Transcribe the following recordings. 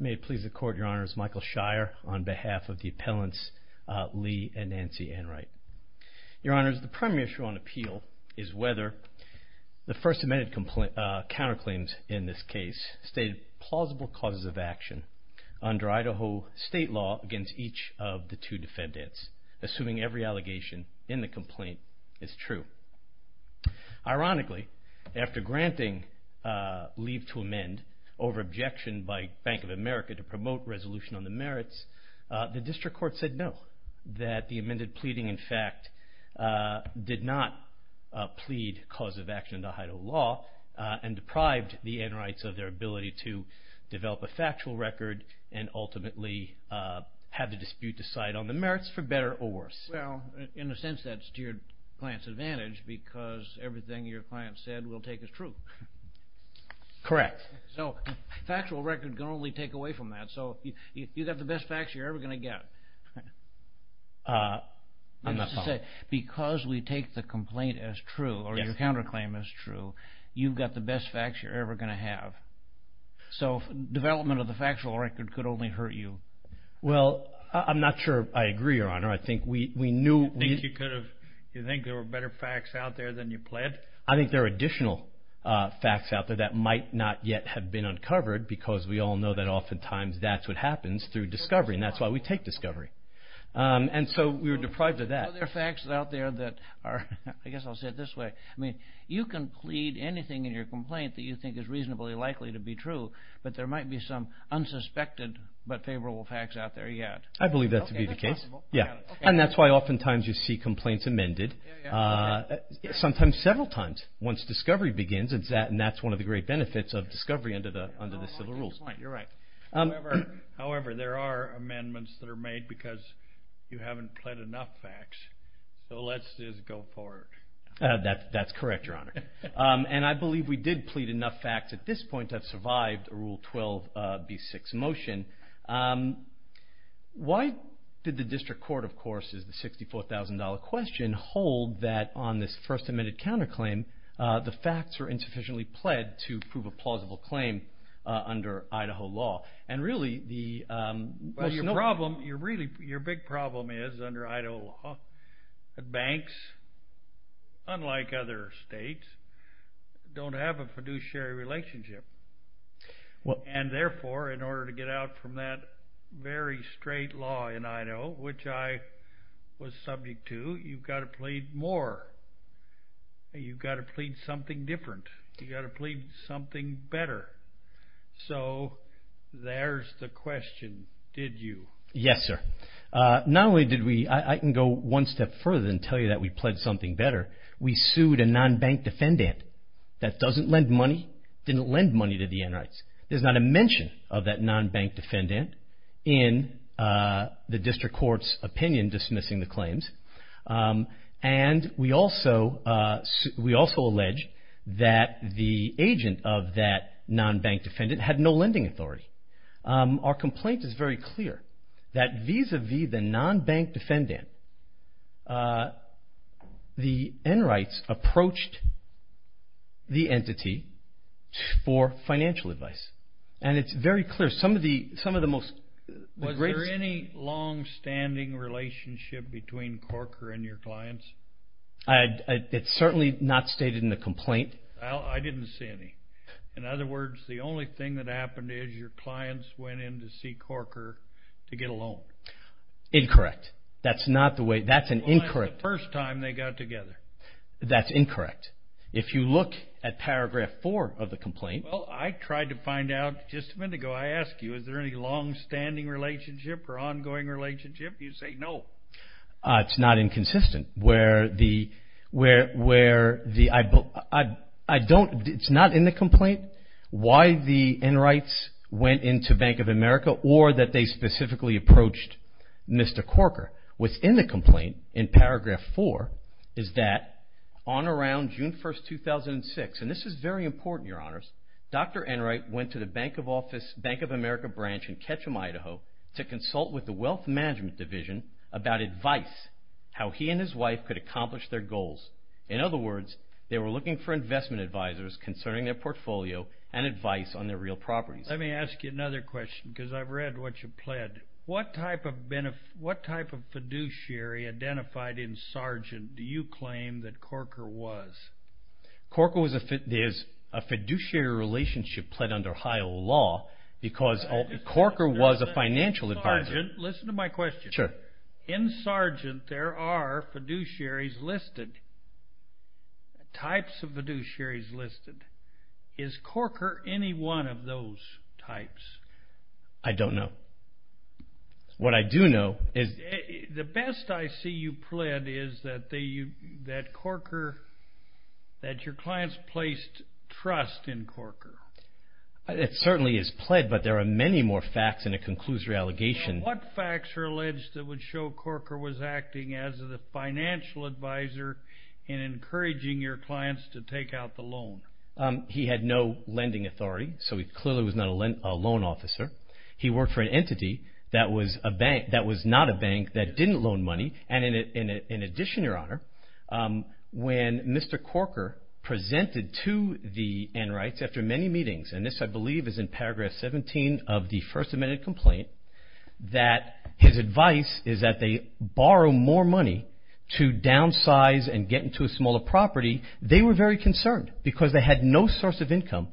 May it please the court, your honors, Michael Shire on behalf of the appellants Lee and Nancy Enright. Your honors, the primary issue on appeal is whether the first amended counterclaims in this case state plausible causes of action under Idaho state law against each of the two defendants, assuming every allegation in the complaint is true. Ironically, after granting leave to amend over objection by Bank of America to promote resolution on the merits, the district court said no, that the amended pleading in fact did not plead cause of action under Idaho law and deprived the Enrights of their ability to develop a factual record and ultimately have the dispute decide on the merits for better or worse. Well, in a sense that's to your client's advantage because everything your client said will take as true. Correct. So factual record can only take away from that, so you've got the best facts you're ever going to get. I'm not following. Because we take the complaint as true or your counterclaim as true, you've got the best facts you're ever going to have. So development of the factual record could only hurt you. Well, I'm not sure I agree, your honor. I think we knew... You think there were better facts out there than you pled? I think there are additional facts out there that might not yet have been uncovered because we all know that oftentimes that's what happens through discovery and that's why we take discovery. And so we were deprived of that. There are facts out there that are, I guess I'll say it this way, you can plead anything in your complaint that you think is reasonably likely to be true, but there might be some unsuspected but favorable facts out there yet. I believe that to be the case. And that's why oftentimes you see complaints amended, sometimes several times once discovery begins and that's one of the great benefits of discovery under the civil rules. You're right. However, there are amendments that are made because you haven't pled enough facts. So let's just go forward. That's correct, your honor. And I believe we did plead enough facts at this point to have survived a Rule 12b6 motion. Why did the district court, of course, as the $64,000 question, hold that on this first amended counterclaim the facts were insufficiently pled to prove a plausible claim under Idaho law? Your big problem is under Idaho law that banks, unlike other states, don't have a fiduciary relationship. And therefore, in order to get out from that very straight law in Idaho, which I was subject to, you've got to plead more. You've got to plead something different. You've got to plead something better. So there's the question. Did you? Yes, sir. Not only did we, I can go one step further and tell you that we pled something better. We sued a non-bank defendant that doesn't lend money, didn't lend money to the Enwrights. There's not a mention of that non-bank defendant in the district court's opinion dismissing the claims. And we also alleged that the agent of that non-bank defendant had no lending authority. Our complaint is very clear that vis-à-vis the non-bank defendant, the Enwrights approached the entity for financial advice. And it's very clear. Some of the most… Was there any long-standing relationship between Corker and your clients? It's certainly not stated in the complaint. I didn't see any. In other words, the only thing that happened is your clients went in to see Corker to get a loan. Incorrect. That's not the way, that's an incorrect… Well, that's the first time they got together. That's incorrect. If you look at paragraph four of the complaint… Well, I tried to find out just a minute ago. I asked you, is there any long-standing relationship or ongoing relationship? You say no. It's not inconsistent where the… I don't… It's not in the complaint why the Enwrights went in to Bank of America or that they specifically approached Mr. Corker. What's in the complaint in paragraph four is that on around June 1, 2006, and this is very important, Your Honors, Dr. Enwright went to the Bank of America branch in Ketchum, Idaho to consult with the Wealth Management Division about advice, how he and his wife could accomplish their goals. In other words, they were looking for investment advisors concerning their portfolio and advice on their real properties. Let me ask you another question because I've read what you pled. What type of fiduciary identified in Sargent do you claim that Corker was? Corker was a fiduciary relationship pled under Ohio law because Corker was a financial advisor. Listen to my question. Sure. In Sargent, there are fiduciaries listed, types of fiduciaries listed. Is Corker any one of those types? I don't know. What I do know is... The best I see you pled is that Corker, that your clients placed trust in Corker. It certainly is pled, but there are many more facts in a conclusory allegation. What facts are alleged that would show Corker was acting as a financial advisor in encouraging your clients to take out the loan? He had no lending authority, so he clearly was not a loan officer. He worked for an entity that was not a bank that didn't loan money. And in addition, Your Honor, when Mr. Corker presented to the Enwrights after many meetings, and this I believe is in paragraph 17 of the first amended complaint, that his advice is that they borrow more money to downsize and get into a smaller property. They were very concerned because they had no source of income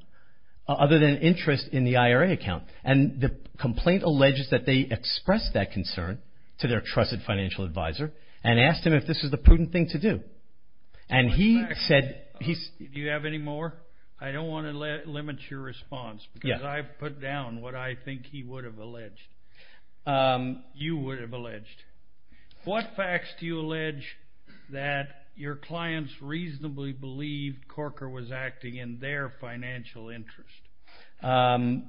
other than interest in the IRA account. And the complaint alleges that they expressed that concern to their trusted financial advisor and asked him if this was the prudent thing to do. And he said... Do you have any more? I don't want to limit your response because I've put down what I think he would have alleged, you would have alleged. What facts do you allege that your clients reasonably believed Corker was acting in their financial interest?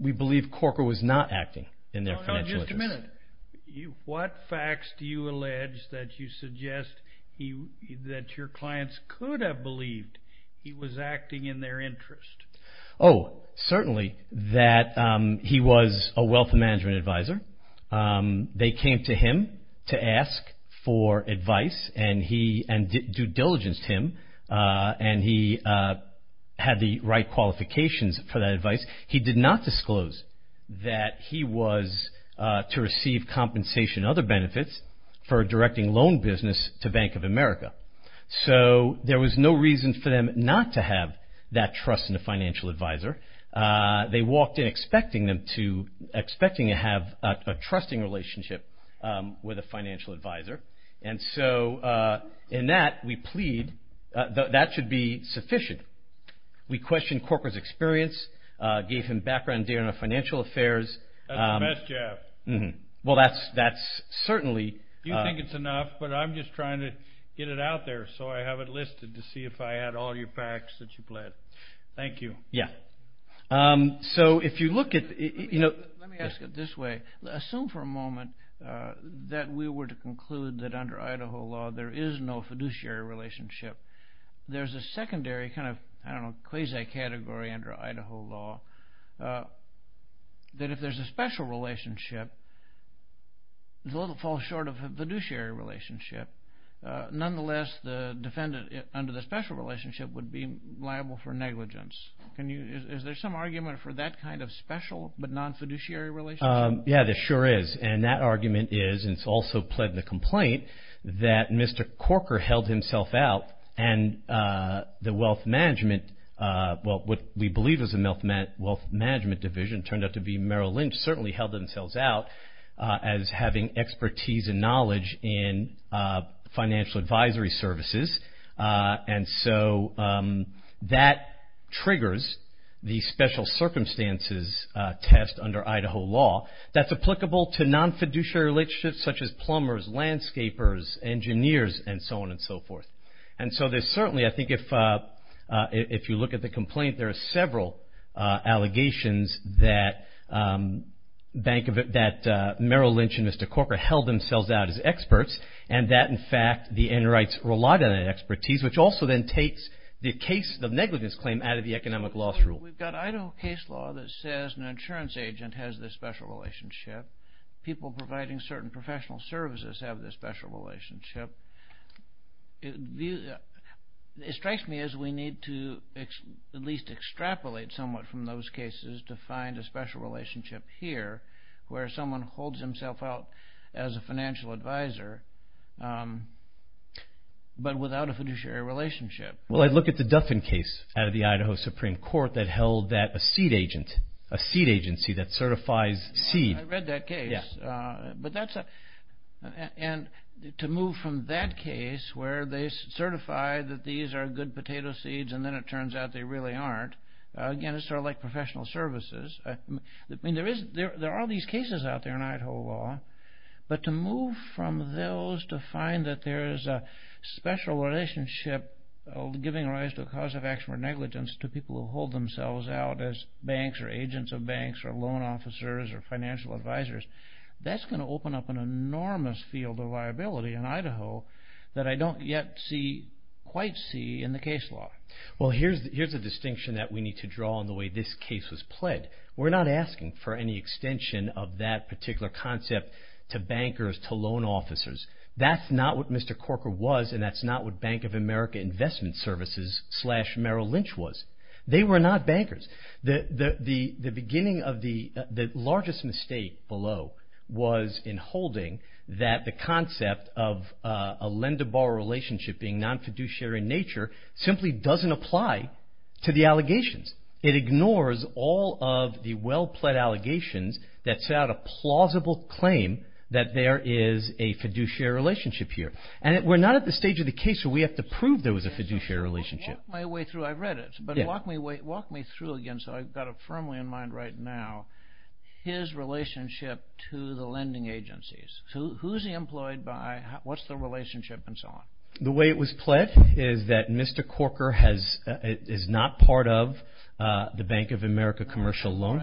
We believe Corker was not acting in their financial interest. No, no, just a minute. What facts do you allege that you suggest that your clients could have believed he was acting in their interest? Oh, certainly that he was a wealth management advisor. They came to him to ask for advice and due diligence to him, and he had the right qualifications for that advice. He did not disclose that he was to receive compensation and other benefits for directing loan business to Bank of America. So there was no reason for them not to have that trust in the financial advisor. They walked in expecting to have a trusting relationship with a financial advisor. And so in that, we plead that that should be sufficient. We questioned Corker's experience, gave him background data on financial affairs. That's the best, Jeff. Well, that's certainly... You think it's enough, but I'm just trying to get it out there, so I have it listed to see if I had all your facts that you pled. Thank you. Yeah. So if you look at... Let me ask it this way. Assume for a moment that we were to conclude that under Idaho law there is no fiduciary relationship. There's a secondary kind of, I don't know, quasi-category under Idaho law that if there's a special relationship, it falls short of a fiduciary relationship. Nonetheless, the defendant under the special relationship would be liable for negligence. Is there some argument for that kind of special but non-fiduciary relationship? Yeah, there sure is. And that argument is, and it's also pled in the complaint, that Mr. Corker held himself out, and the wealth management... Well, what we believe is a wealth management division turned out to be Merrill Lynch, certainly held themselves out as having expertise and knowledge in financial advisory services, and so that triggers the special circumstances test under Idaho law that's applicable to non-fiduciary relationships such as plumbers, landscapers, engineers, and so on and so forth. And so there's certainly, I think, if you look at the complaint, there are several allegations that Merrill Lynch and Mr. Corker held themselves out as experts and that, in fact, the enterites relied on that expertise, which also then takes the case of negligence claim out of the economic loss rule. We've got Idaho case law that says an insurance agent has this special relationship. People providing certain professional services have this special relationship. It strikes me as we need to at least extrapolate somewhat from those cases to find a special relationship here where someone holds himself out as a financial advisor but without a fiduciary relationship. Well, I'd look at the Duffin case out of the Idaho Supreme Court that held that a seed agent, a seed agency that certifies seed... where they certify that these are good potato seeds and then it turns out they really aren't. Again, it's sort of like professional services. I mean, there are these cases out there in Idaho law, but to move from those to find that there is a special relationship giving rise to a cause of action or negligence to people who hold themselves out as banks or agents of banks or loan officers or financial advisors, that's going to open up an enormous field of liability in Idaho that I don't yet quite see in the case law. Well, here's a distinction that we need to draw on the way this case was played. We're not asking for any extension of that particular concept to bankers, to loan officers. That's not what Mr. Corker was and that's not what Bank of America Investment Services slash Merrill Lynch was. They were not bankers. The beginning of the largest mistake below was in holding that the concept of a lender-borrower relationship being non-fiduciary in nature simply doesn't apply to the allegations. It ignores all of the well-plead allegations that set out a plausible claim that there is a fiduciary relationship here. And we're not at the stage of the case where we have to prove there was a fiduciary relationship. Walk me through, I've read it, but walk me through again so I've got it firmly in mind right now, his relationship to the lending agencies. Who's he employed by? What's the relationship and so on? The way it was played is that Mr. Corker is not part of the Bank of America Commercial Loan.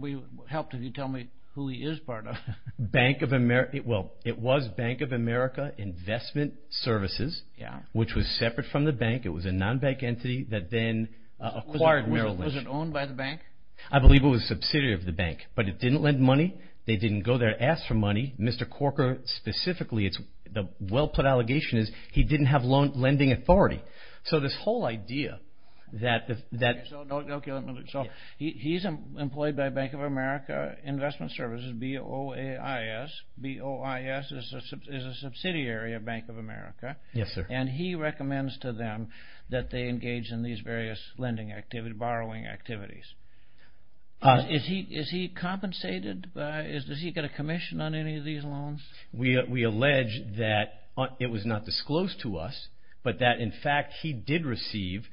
We would help if you tell me who he is part of. Bank of America, well, it was Bank of America Investment Services, which was separate from the bank. It was a non-bank entity that then acquired Merrill Lynch. Was it owned by the bank? I believe it was a subsidiary of the bank, but it didn't lend money. They didn't go there to ask for money. Mr. Corker specifically, the well-put allegation is he didn't have lending authority. So this whole idea that... So he's employed by Bank of America Investment Services, BOIS. BOIS is a subsidiary of Bank of America. Yes, sir. And he recommends to them that they engage in these various lending activities, borrowing activities. Is he compensated? Does he get a commission on any of these loans? We allege that it was not disclosed to us, but that in fact he did receive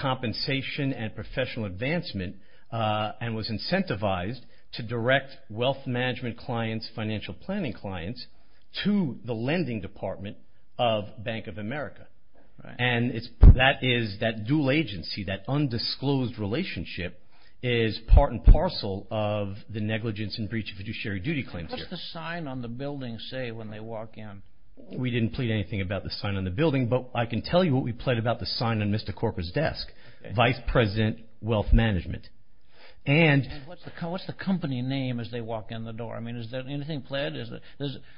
compensation and professional advancement and was incentivized to direct wealth management clients, financial planning clients, to the lending department of Bank of America. And that dual agency, that undisclosed relationship, is part and parcel of the negligence and breach of fiduciary duty claims here. What does the sign on the building say when they walk in? We didn't plead anything about the sign on the building, but I can tell you what we plead about the sign on Mr. Corker's desk, Vice President Wealth Management. And what's the company name as they walk in the door? I mean, is there anything pledged?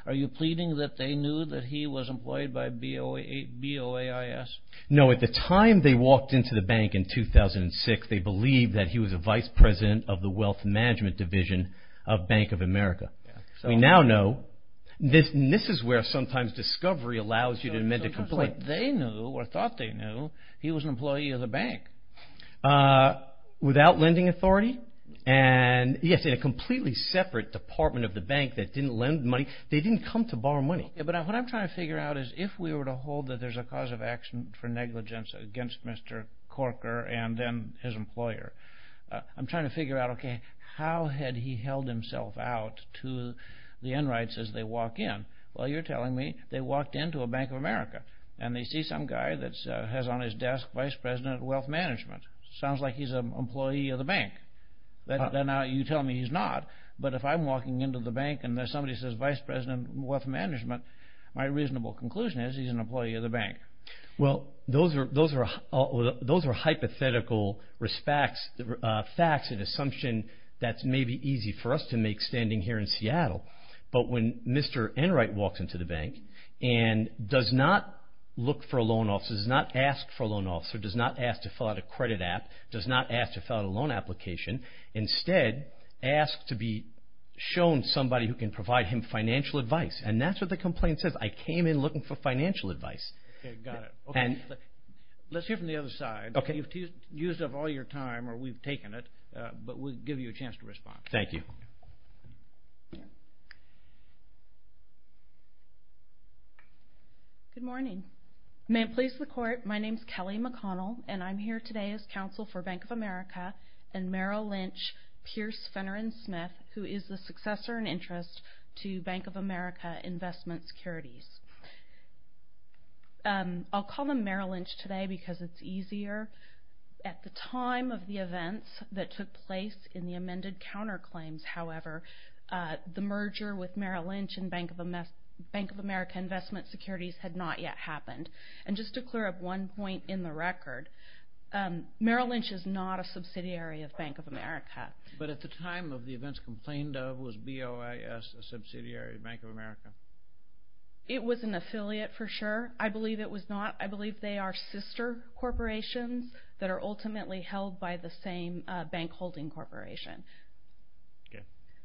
Are you pleading that they knew that he was employed by BOIS? No, at the time they walked into the bank in 2006, they believed that he was a Vice President of the Wealth Management Division of Bank of America. We now know. This is where sometimes discovery allows you to amend a complaint. So it sounds like they knew or thought they knew he was an employee of the bank. Without lending authority. Yes, in a completely separate department of the bank that didn't lend money. They didn't come to borrow money. But what I'm trying to figure out is if we were to hold that there's a cause of action for negligence against Mr. Corker and then his employer, I'm trying to figure out, okay, how had he held himself out to the enrights as they walk in? Well, you're telling me they walked into a Bank of America and they see some guy that has on his desk, Vice President Wealth Management. Sounds like he's an employee of the bank. Now you tell me he's not. But if I'm walking into the bank and somebody says Vice President Wealth Management, my reasonable conclusion is he's an employee of the bank. Well, those are hypothetical facts and assumption that may be easy for us to make standing here in Seattle. But when Mr. Enright walks into the bank and does not look for a loan officer, does not ask for a loan officer, does not ask to fill out a credit app, does not ask to fill out a loan application, instead asks to be shown somebody who can provide him financial advice. And that's what the complaint says, I came in looking for financial advice. Okay, got it. Let's hear from the other side. You've used up all your time or we've taken it, but we'll give you a chance to respond. Thank you. Good morning. May it please the Court, my name is Kelly McConnell, and I'm here today as counsel for Bank of America and Merrill Lynch, Pierce, Fenner, and Smith, who is the successor in interest to Bank of America Investment Securities. I'll call them Merrill Lynch today because it's easier. At the time of the events that took place in the amended counterclaims, however, the merger with Merrill Lynch and Bank of America Investment Securities had not yet happened. And just to clear up one point in the record, Merrill Lynch is not a subsidiary of Bank of America. But at the time of the events complained of, was BOIS a subsidiary of Bank of America? It was an affiliate for sure. I believe it was not. I believe they are sister corporations that are ultimately held by the same bank holding corporation.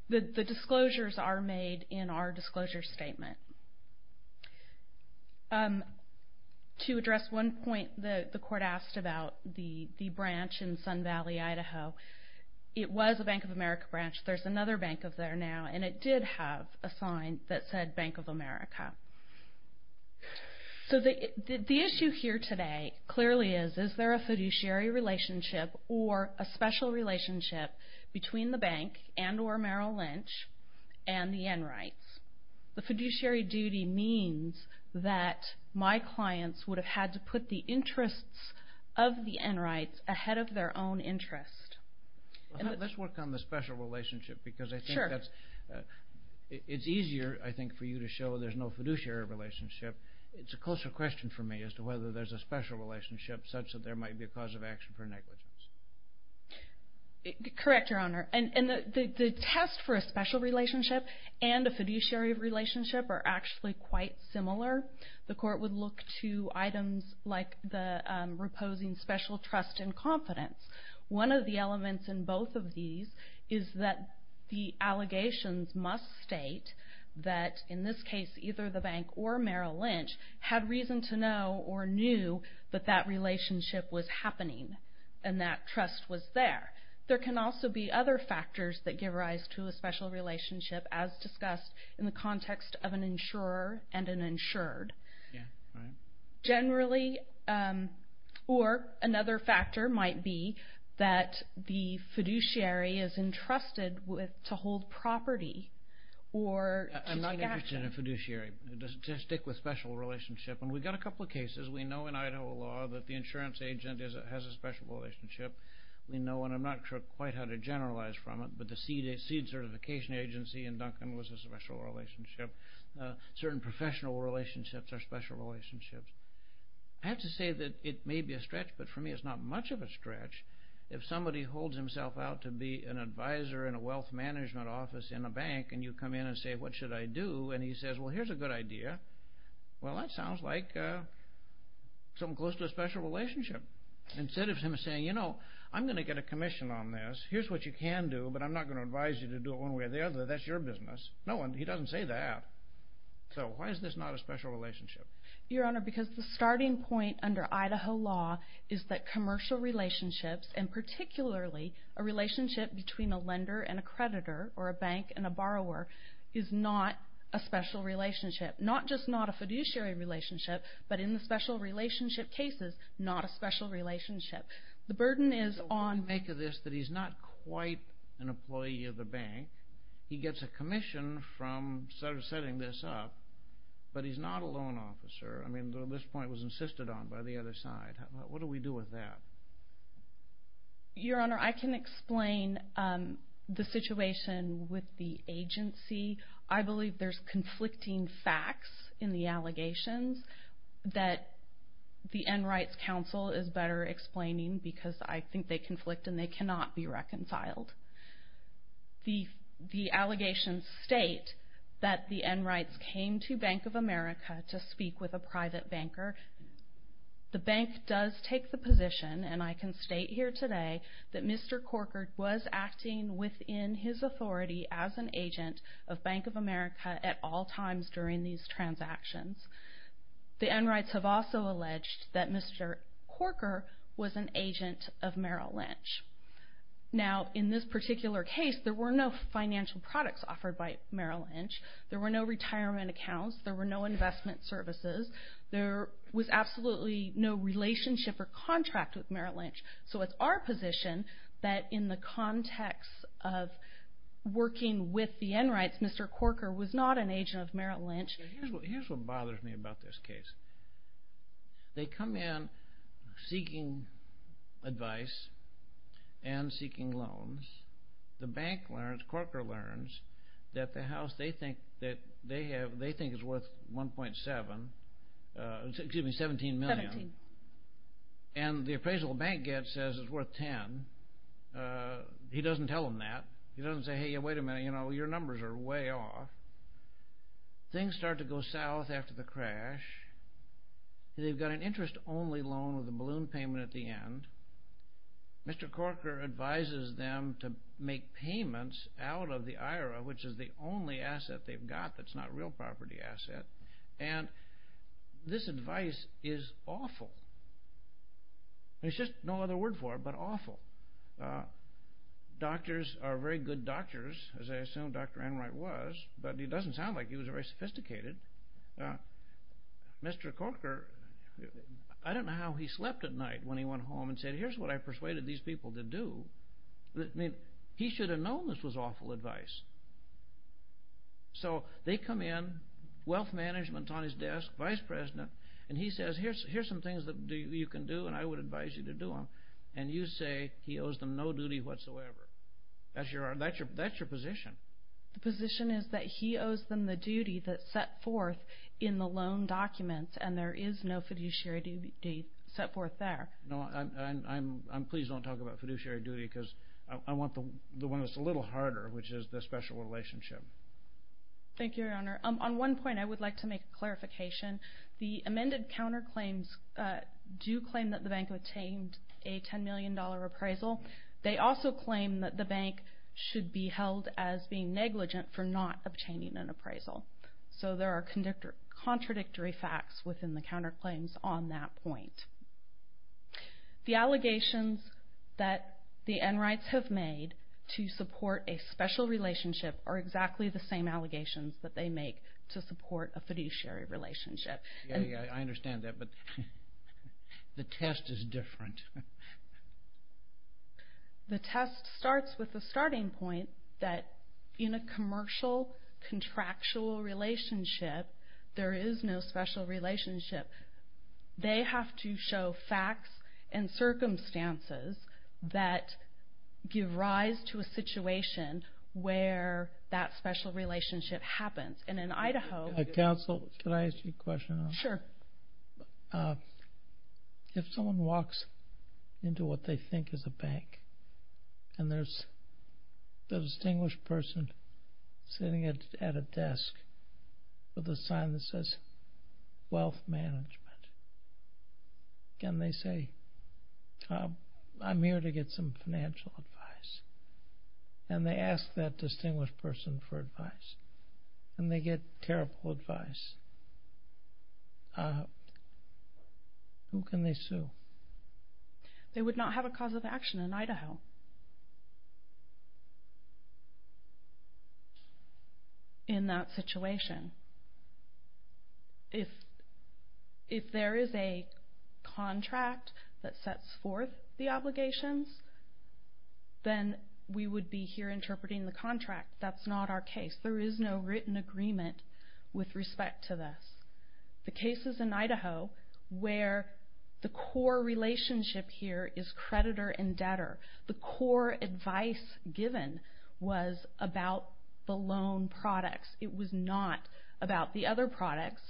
The disclosures are made in our disclosure statement. To address one point the Court asked about the branch in Sun Valley, Idaho, it was a Bank of America branch. There's another bank of there now, and it did have a sign that said Bank of America. So the issue here today clearly is, is there a fiduciary relationship or a special relationship between the bank and or Merrill Lynch and the Enrights? The fiduciary duty means that my clients would have had to put the interests of the Enrights ahead of their own interest. Let's work on the special relationship because I think it's easier I think for you to show there's no fiduciary relationship. It's a closer question for me as to whether there's a special relationship such that there might be a cause of action for negligence. Correct, Your Honor. And the test for a special relationship and a fiduciary relationship are actually quite similar. The Court would look to items like the reposing special trust and confidence. One of the elements in both of these is that the allegations must state that in this case either the bank or Merrill Lynch had reason to know or knew that that relationship was happening and that trust was there. There can also be other factors that give rise to a special relationship as discussed in the context of an insurer and an insured. Yeah, right. Generally, or another factor might be that the fiduciary is entrusted to hold property or to take action. I'm not interested in a fiduciary. It doesn't stick with special relationship. And we've got a couple of cases. We know in Idaho law that the insurance agent has a special relationship. We know, and I'm not sure quite how to generalize from it, but the seed certification agency in Duncan was a special relationship. Certain professional relationships are special relationships. I have to say that it may be a stretch, but for me it's not much of a stretch. If somebody holds himself out to be an advisor in a wealth management office in a bank and you come in and say, what should I do? And he says, well, here's a good idea. Well, that sounds like something close to a special relationship. Instead of him saying, you know, I'm going to get a commission on this. Here's what you can do, but I'm not going to advise you to do it one way or the other. That's your business. No one, he doesn't say that. So why is this not a special relationship? Your Honor, because the starting point under Idaho law is that commercial relationships and particularly a relationship between a lender and a creditor or a bank and a borrower is not a special relationship. Not just not a fiduciary relationship, but in the special relationship cases, not a special relationship. The burden is on… Make of this that he's not quite an employee of the bank. He gets a commission from setting this up, but he's not a loan officer. I mean, this point was insisted on by the other side. What do we do with that? Your Honor, I can explain the situation with the agency. I believe there's conflicting facts in the allegations that the End Rights Council is better explaining because I think they conflict and they cannot be reconciled. The allegations state that the End Rights came to Bank of America to speak with a private banker. The bank does take the position, and I can state here today, that Mr. Corker was acting within his authority as an agent of Bank of America at all times during these transactions. The End Rights have also alleged that Mr. Corker was an agent of Merrill Lynch. Now, in this particular case, there were no financial products offered by Merrill Lynch. There were no retirement accounts. There were no investment services. There was absolutely no relationship or contract with Merrill Lynch. So it's our position that in the context of working with the End Rights, Mr. Corker was not an agent of Merrill Lynch. Here's what bothers me about this case. They come in seeking advice and seeking loans. The bank learns, Corker learns, that the house they think is worth 1.7, excuse me, $17 million. And the appraisal the bank gets says it's worth $10. He doesn't tell them that. He doesn't say, hey, wait a minute, your numbers are way off. Things start to go south after the crash. They've got an interest-only loan with a balloon payment at the end. Mr. Corker advises them to make payments out of the IRA, which is the only asset they've got that's not a real property asset. And this advice is awful. There's just no other word for it but awful. Doctors are very good doctors, as I assume Dr. Enright was, but he doesn't sound like he was very sophisticated. Mr. Corker, I don't know how he slept at night when he went home and said, here's what I persuaded these people to do. I mean, he should have known this was awful advice. So they come in, wealth management on his desk, vice president, and he says, here's some things that you can do, and I would advise you to do them. And you say he owes them no duty whatsoever. That's your position. The position is that he owes them the duty that's set forth in the loan documents, and there is no fiduciary duty set forth there. No, I'm pleased you don't talk about fiduciary duty because I want the one that's a little harder, which is the special relationship. Thank you, Your Honor. On one point, I would like to make a clarification. The amended counterclaims do claim that the bank obtained a $10 million appraisal. They also claim that the bank should be held as being negligent for not obtaining an appraisal. So there are contradictory facts within the counterclaims on that point. The allegations that the Enrights have made to support a special relationship are exactly the same allegations that they make to support a fiduciary relationship. I understand that, but the test is different. The test starts with the starting point that in a commercial contractual relationship, there is no special relationship. They have to show facts and circumstances that give rise to a situation where that special relationship happens. And in Idaho... Counsel, can I ask you a question? Sure. If someone walks into what they think is a bank and there's a distinguished person sitting at a desk with a sign that says, Again, they say, I'm here to get some financial advice. And they ask that distinguished person for advice. And they get terrible advice. Who can they sue? They would not have a cause of action in Idaho. In that situation. If there is a contract that sets forth the obligations, then we would be here interpreting the contract. That's not our case. There is no written agreement with respect to this. The cases in Idaho where the core relationship here is creditor and debtor, the core advice given was about the loan products. It was not about the other products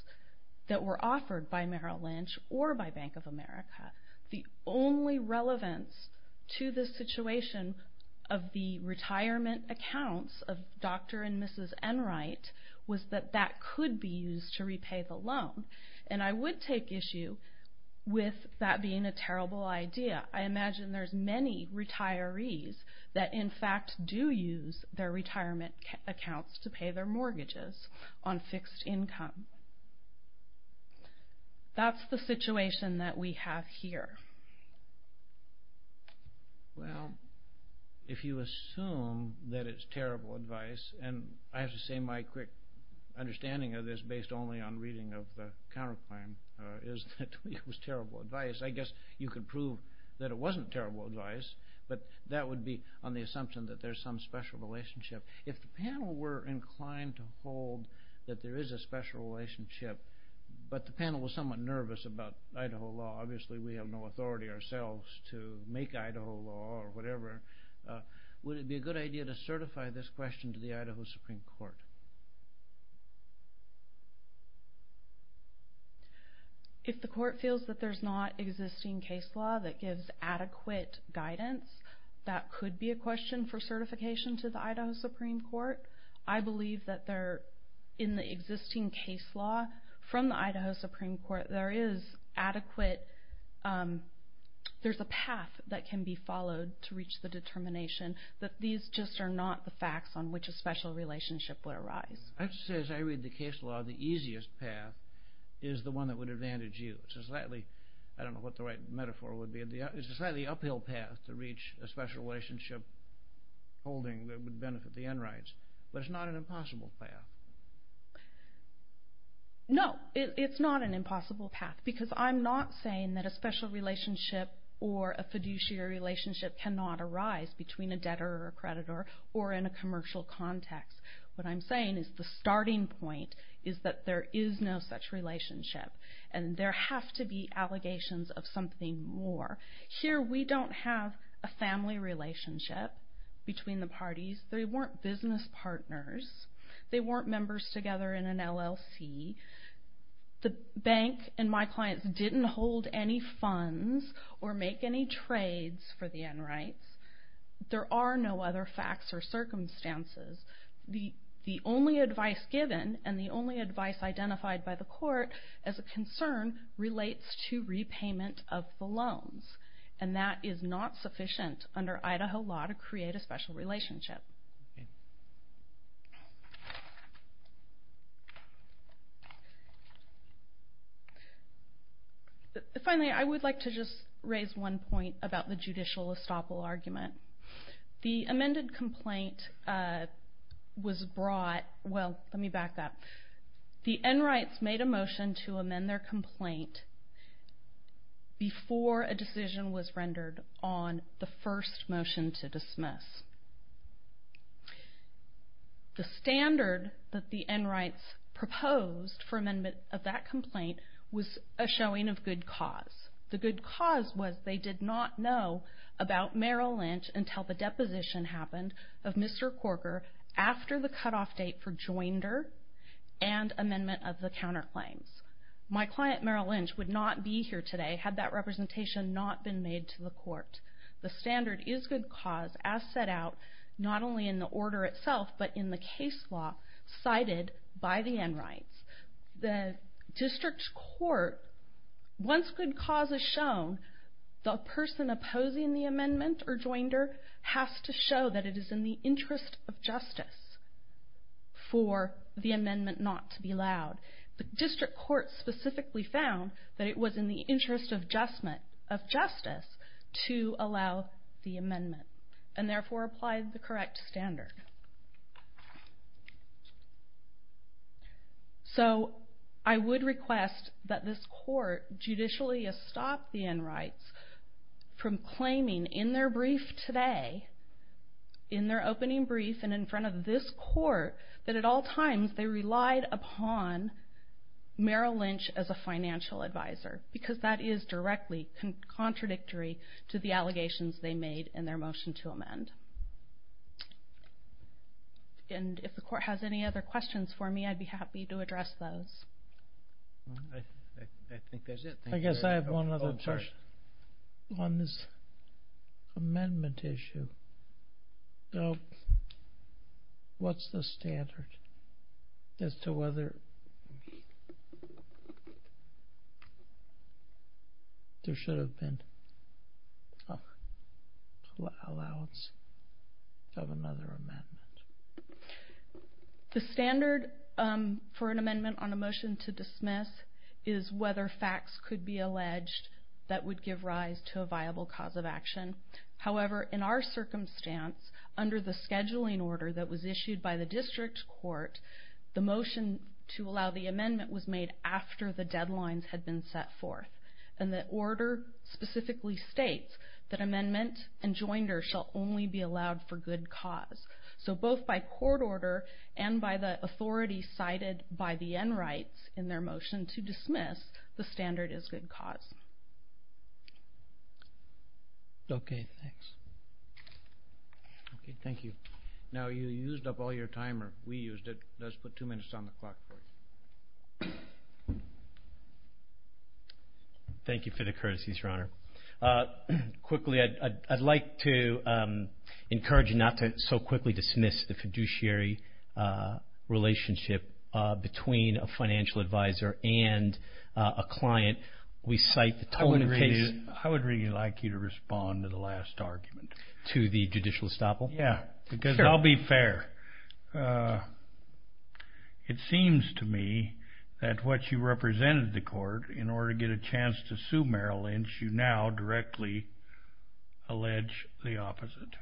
that were offered by Merrill Lynch or by Bank of America. The only relevance to the situation of the retirement accounts of Dr. and Mrs. Enright was that that could be used to repay the loan. And I would take issue with that being a terrible idea. Some banks do use their retirement accounts to pay their mortgages on fixed income. That's the situation that we have here. Well, if you assume that it's terrible advice, and I have to say my quick understanding of this based only on reading of the counterclaim is that it was terrible advice. I guess you could prove that it wasn't terrible advice, but that would be on the assumption that there's some special relationship. If the panel were inclined to hold that there is a special relationship, but the panel was somewhat nervous about Idaho law, obviously we have no authority ourselves to make Idaho law or whatever, would it be a good idea to certify this question to the Idaho Supreme Court? If the court feels that there's not existing case law that gives adequate guidance, that could be a question for certification to the Idaho Supreme Court. I believe that there, in the existing case law from the Idaho Supreme Court, there is adequate, there's a path that can be followed to reach the determination that these just are not the facts on which a special relationship would arise. I have to say, as I read the case law, the easiest path is the one that would advantage you. It's a slightly, I don't know what the right metaphor would be, it's a slightly uphill path to reach a special relationship holding that would benefit the enrights. But it's not an impossible path. No, it's not an impossible path, because I'm not saying that a special relationship or a fiduciary relationship cannot arise between a debtor or a creditor or in a commercial context. What I'm saying is the starting point is that there is no such relationship, and there have to be allegations of something more. Here we don't have a family relationship between the parties. They weren't business partners. They weren't members together in an LLC. The bank and my clients didn't hold any funds or make any trades for the enrights. There are no other facts or circumstances. The only advice given and the only advice identified by the court as a concern relates to repayment of the loans, and that is not sufficient under Idaho law to create a special relationship. Finally, I would like to just raise one point about the judicial estoppel argument. The amended complaint was brought, well, let me back up. The enrights made a motion to amend their complaint before a decision was rendered on the first motion to dismiss. The standard that the enrights proposed for amendment of that complaint was a showing of good cause. The good cause was they did not know about Merrill Lynch until the deposition happened of Mr. Corker after the cutoff date for Joinder and amendment of the counterclaims. My client Merrill Lynch would not be here today had that representation not been made to the court. The standard is good cause as set out not only in the order itself but in the case law cited by the enrights. The district court, once good cause is shown, the person opposing the amendment or Joinder has to show that it is in the interest of justice for the amendment not to be allowed. The district court specifically found that it was in the interest of justice to allow the amendment and therefore applied the correct standard. So I would request that this court judicially stop the enrights from claiming in their brief today, in their opening brief and in front of this court that at all times they relied upon Merrill Lynch as a financial advisor because that is directly contradictory to the allegations they made in their motion to amend. And if the court has any other questions for me I'd be happy to address those. I think that's it. I guess I have one other question on this amendment issue. What's the standard as to whether there should have been an allowance of another amendment? The standard for an amendment on a motion to dismiss is whether facts could be alleged that would give rise to a viable cause of action. However, in our circumstance under the scheduling order that was issued by the district court the motion to allow the amendment was made after the deadlines had been set forth. And the order specifically states that amendment and joinder shall only be allowed for good cause. So both by court order and by the authority cited by the enrights in their motion to dismiss, the standard is good cause. Okay, thanks. Okay, thank you. Now you used up all your timer. We used it. Let's put two minutes on the clock for you. Thank you for the courtesies, Your Honor. Quickly, I'd like to encourage not to so quickly dismiss the fiduciary relationship between a financial advisor and a client. I would really like you to respond to the last argument. To the judicial estoppel? Yeah, because I'll be fair. It seems to me that what you represented to court in order to get a chance to sue Merrill Lynch, you now directly allege the opposite.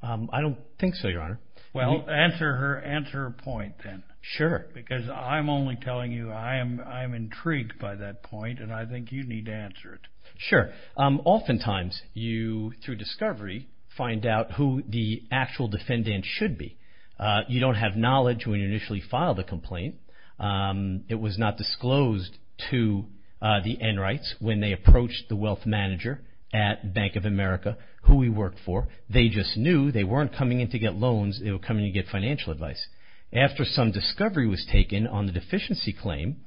I don't think so, Your Honor. Well, answer her point then. Sure. Because I'm only telling you I'm intrigued by that point, and I think you need to answer it. Oftentimes you, through discovery, find out who the actual defendant should be. You don't have knowledge when you initially file the complaint. It was not disclosed to the enrights when they approached the wealth manager at Bank of America, who we work for. They just knew. They weren't coming in to get loans. They were coming in to get financial advice. After some discovery was taken on the deficiency claim,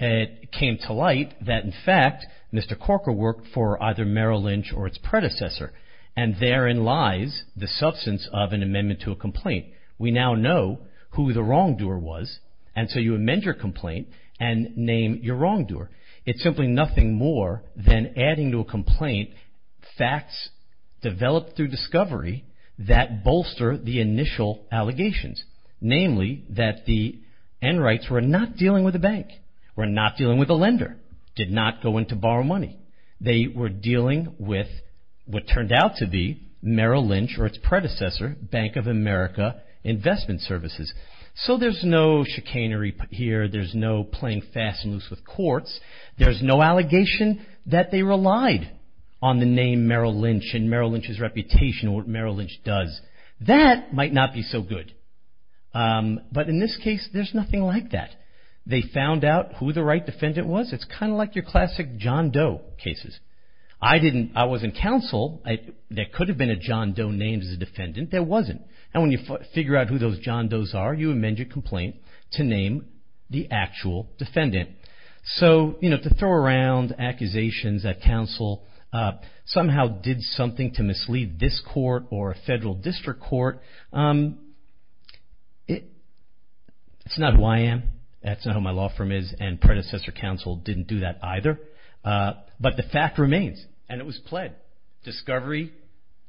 it came to light that, in fact, Mr. Corker worked for either Merrill Lynch or its predecessor, and therein lies the substance of an amendment to a complaint. We now know who the wrongdoer was, and so you amend your complaint and name your wrongdoer. It's simply nothing more than adding to a complaint facts developed through discovery that bolster the initial allegations. Namely, that the enrights were not dealing with a bank, were not dealing with a lender, did not go in to borrow money. They were dealing with what turned out to be Merrill Lynch or its predecessor, Bank of America Investment Services. So there's no chicanery here. There's no playing fast and loose with courts. There's no allegation that they relied on the name Merrill Lynch and Merrill Lynch's reputation or what Merrill Lynch does. That might not be so good. But in this case, there's nothing like that. They found out who the right defendant was. It's kind of like your classic John Doe cases. I was in counsel. There could have been a John Doe named as a defendant. There wasn't. And when you figure out who those John Does are, you amend your complaint to name the actual defendant. So, you know, to throw around accusations that counsel somehow did something to mislead this court or a federal district court, it's not who I am. That's not who my law firm is. And predecessor counsel didn't do that either. But the fact remains, and it was pled, discovery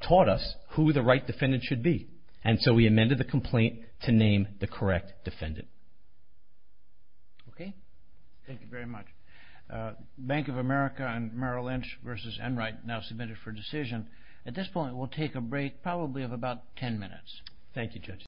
taught us who the right defendant should be. And so we amended the complaint to name the correct defendant. Okay? Thank you very much. Bank of America and Merrill Lynch v. Enright now submitted for decision. At this point, we'll take a break, probably of about 10 minutes. Thank you, Judge.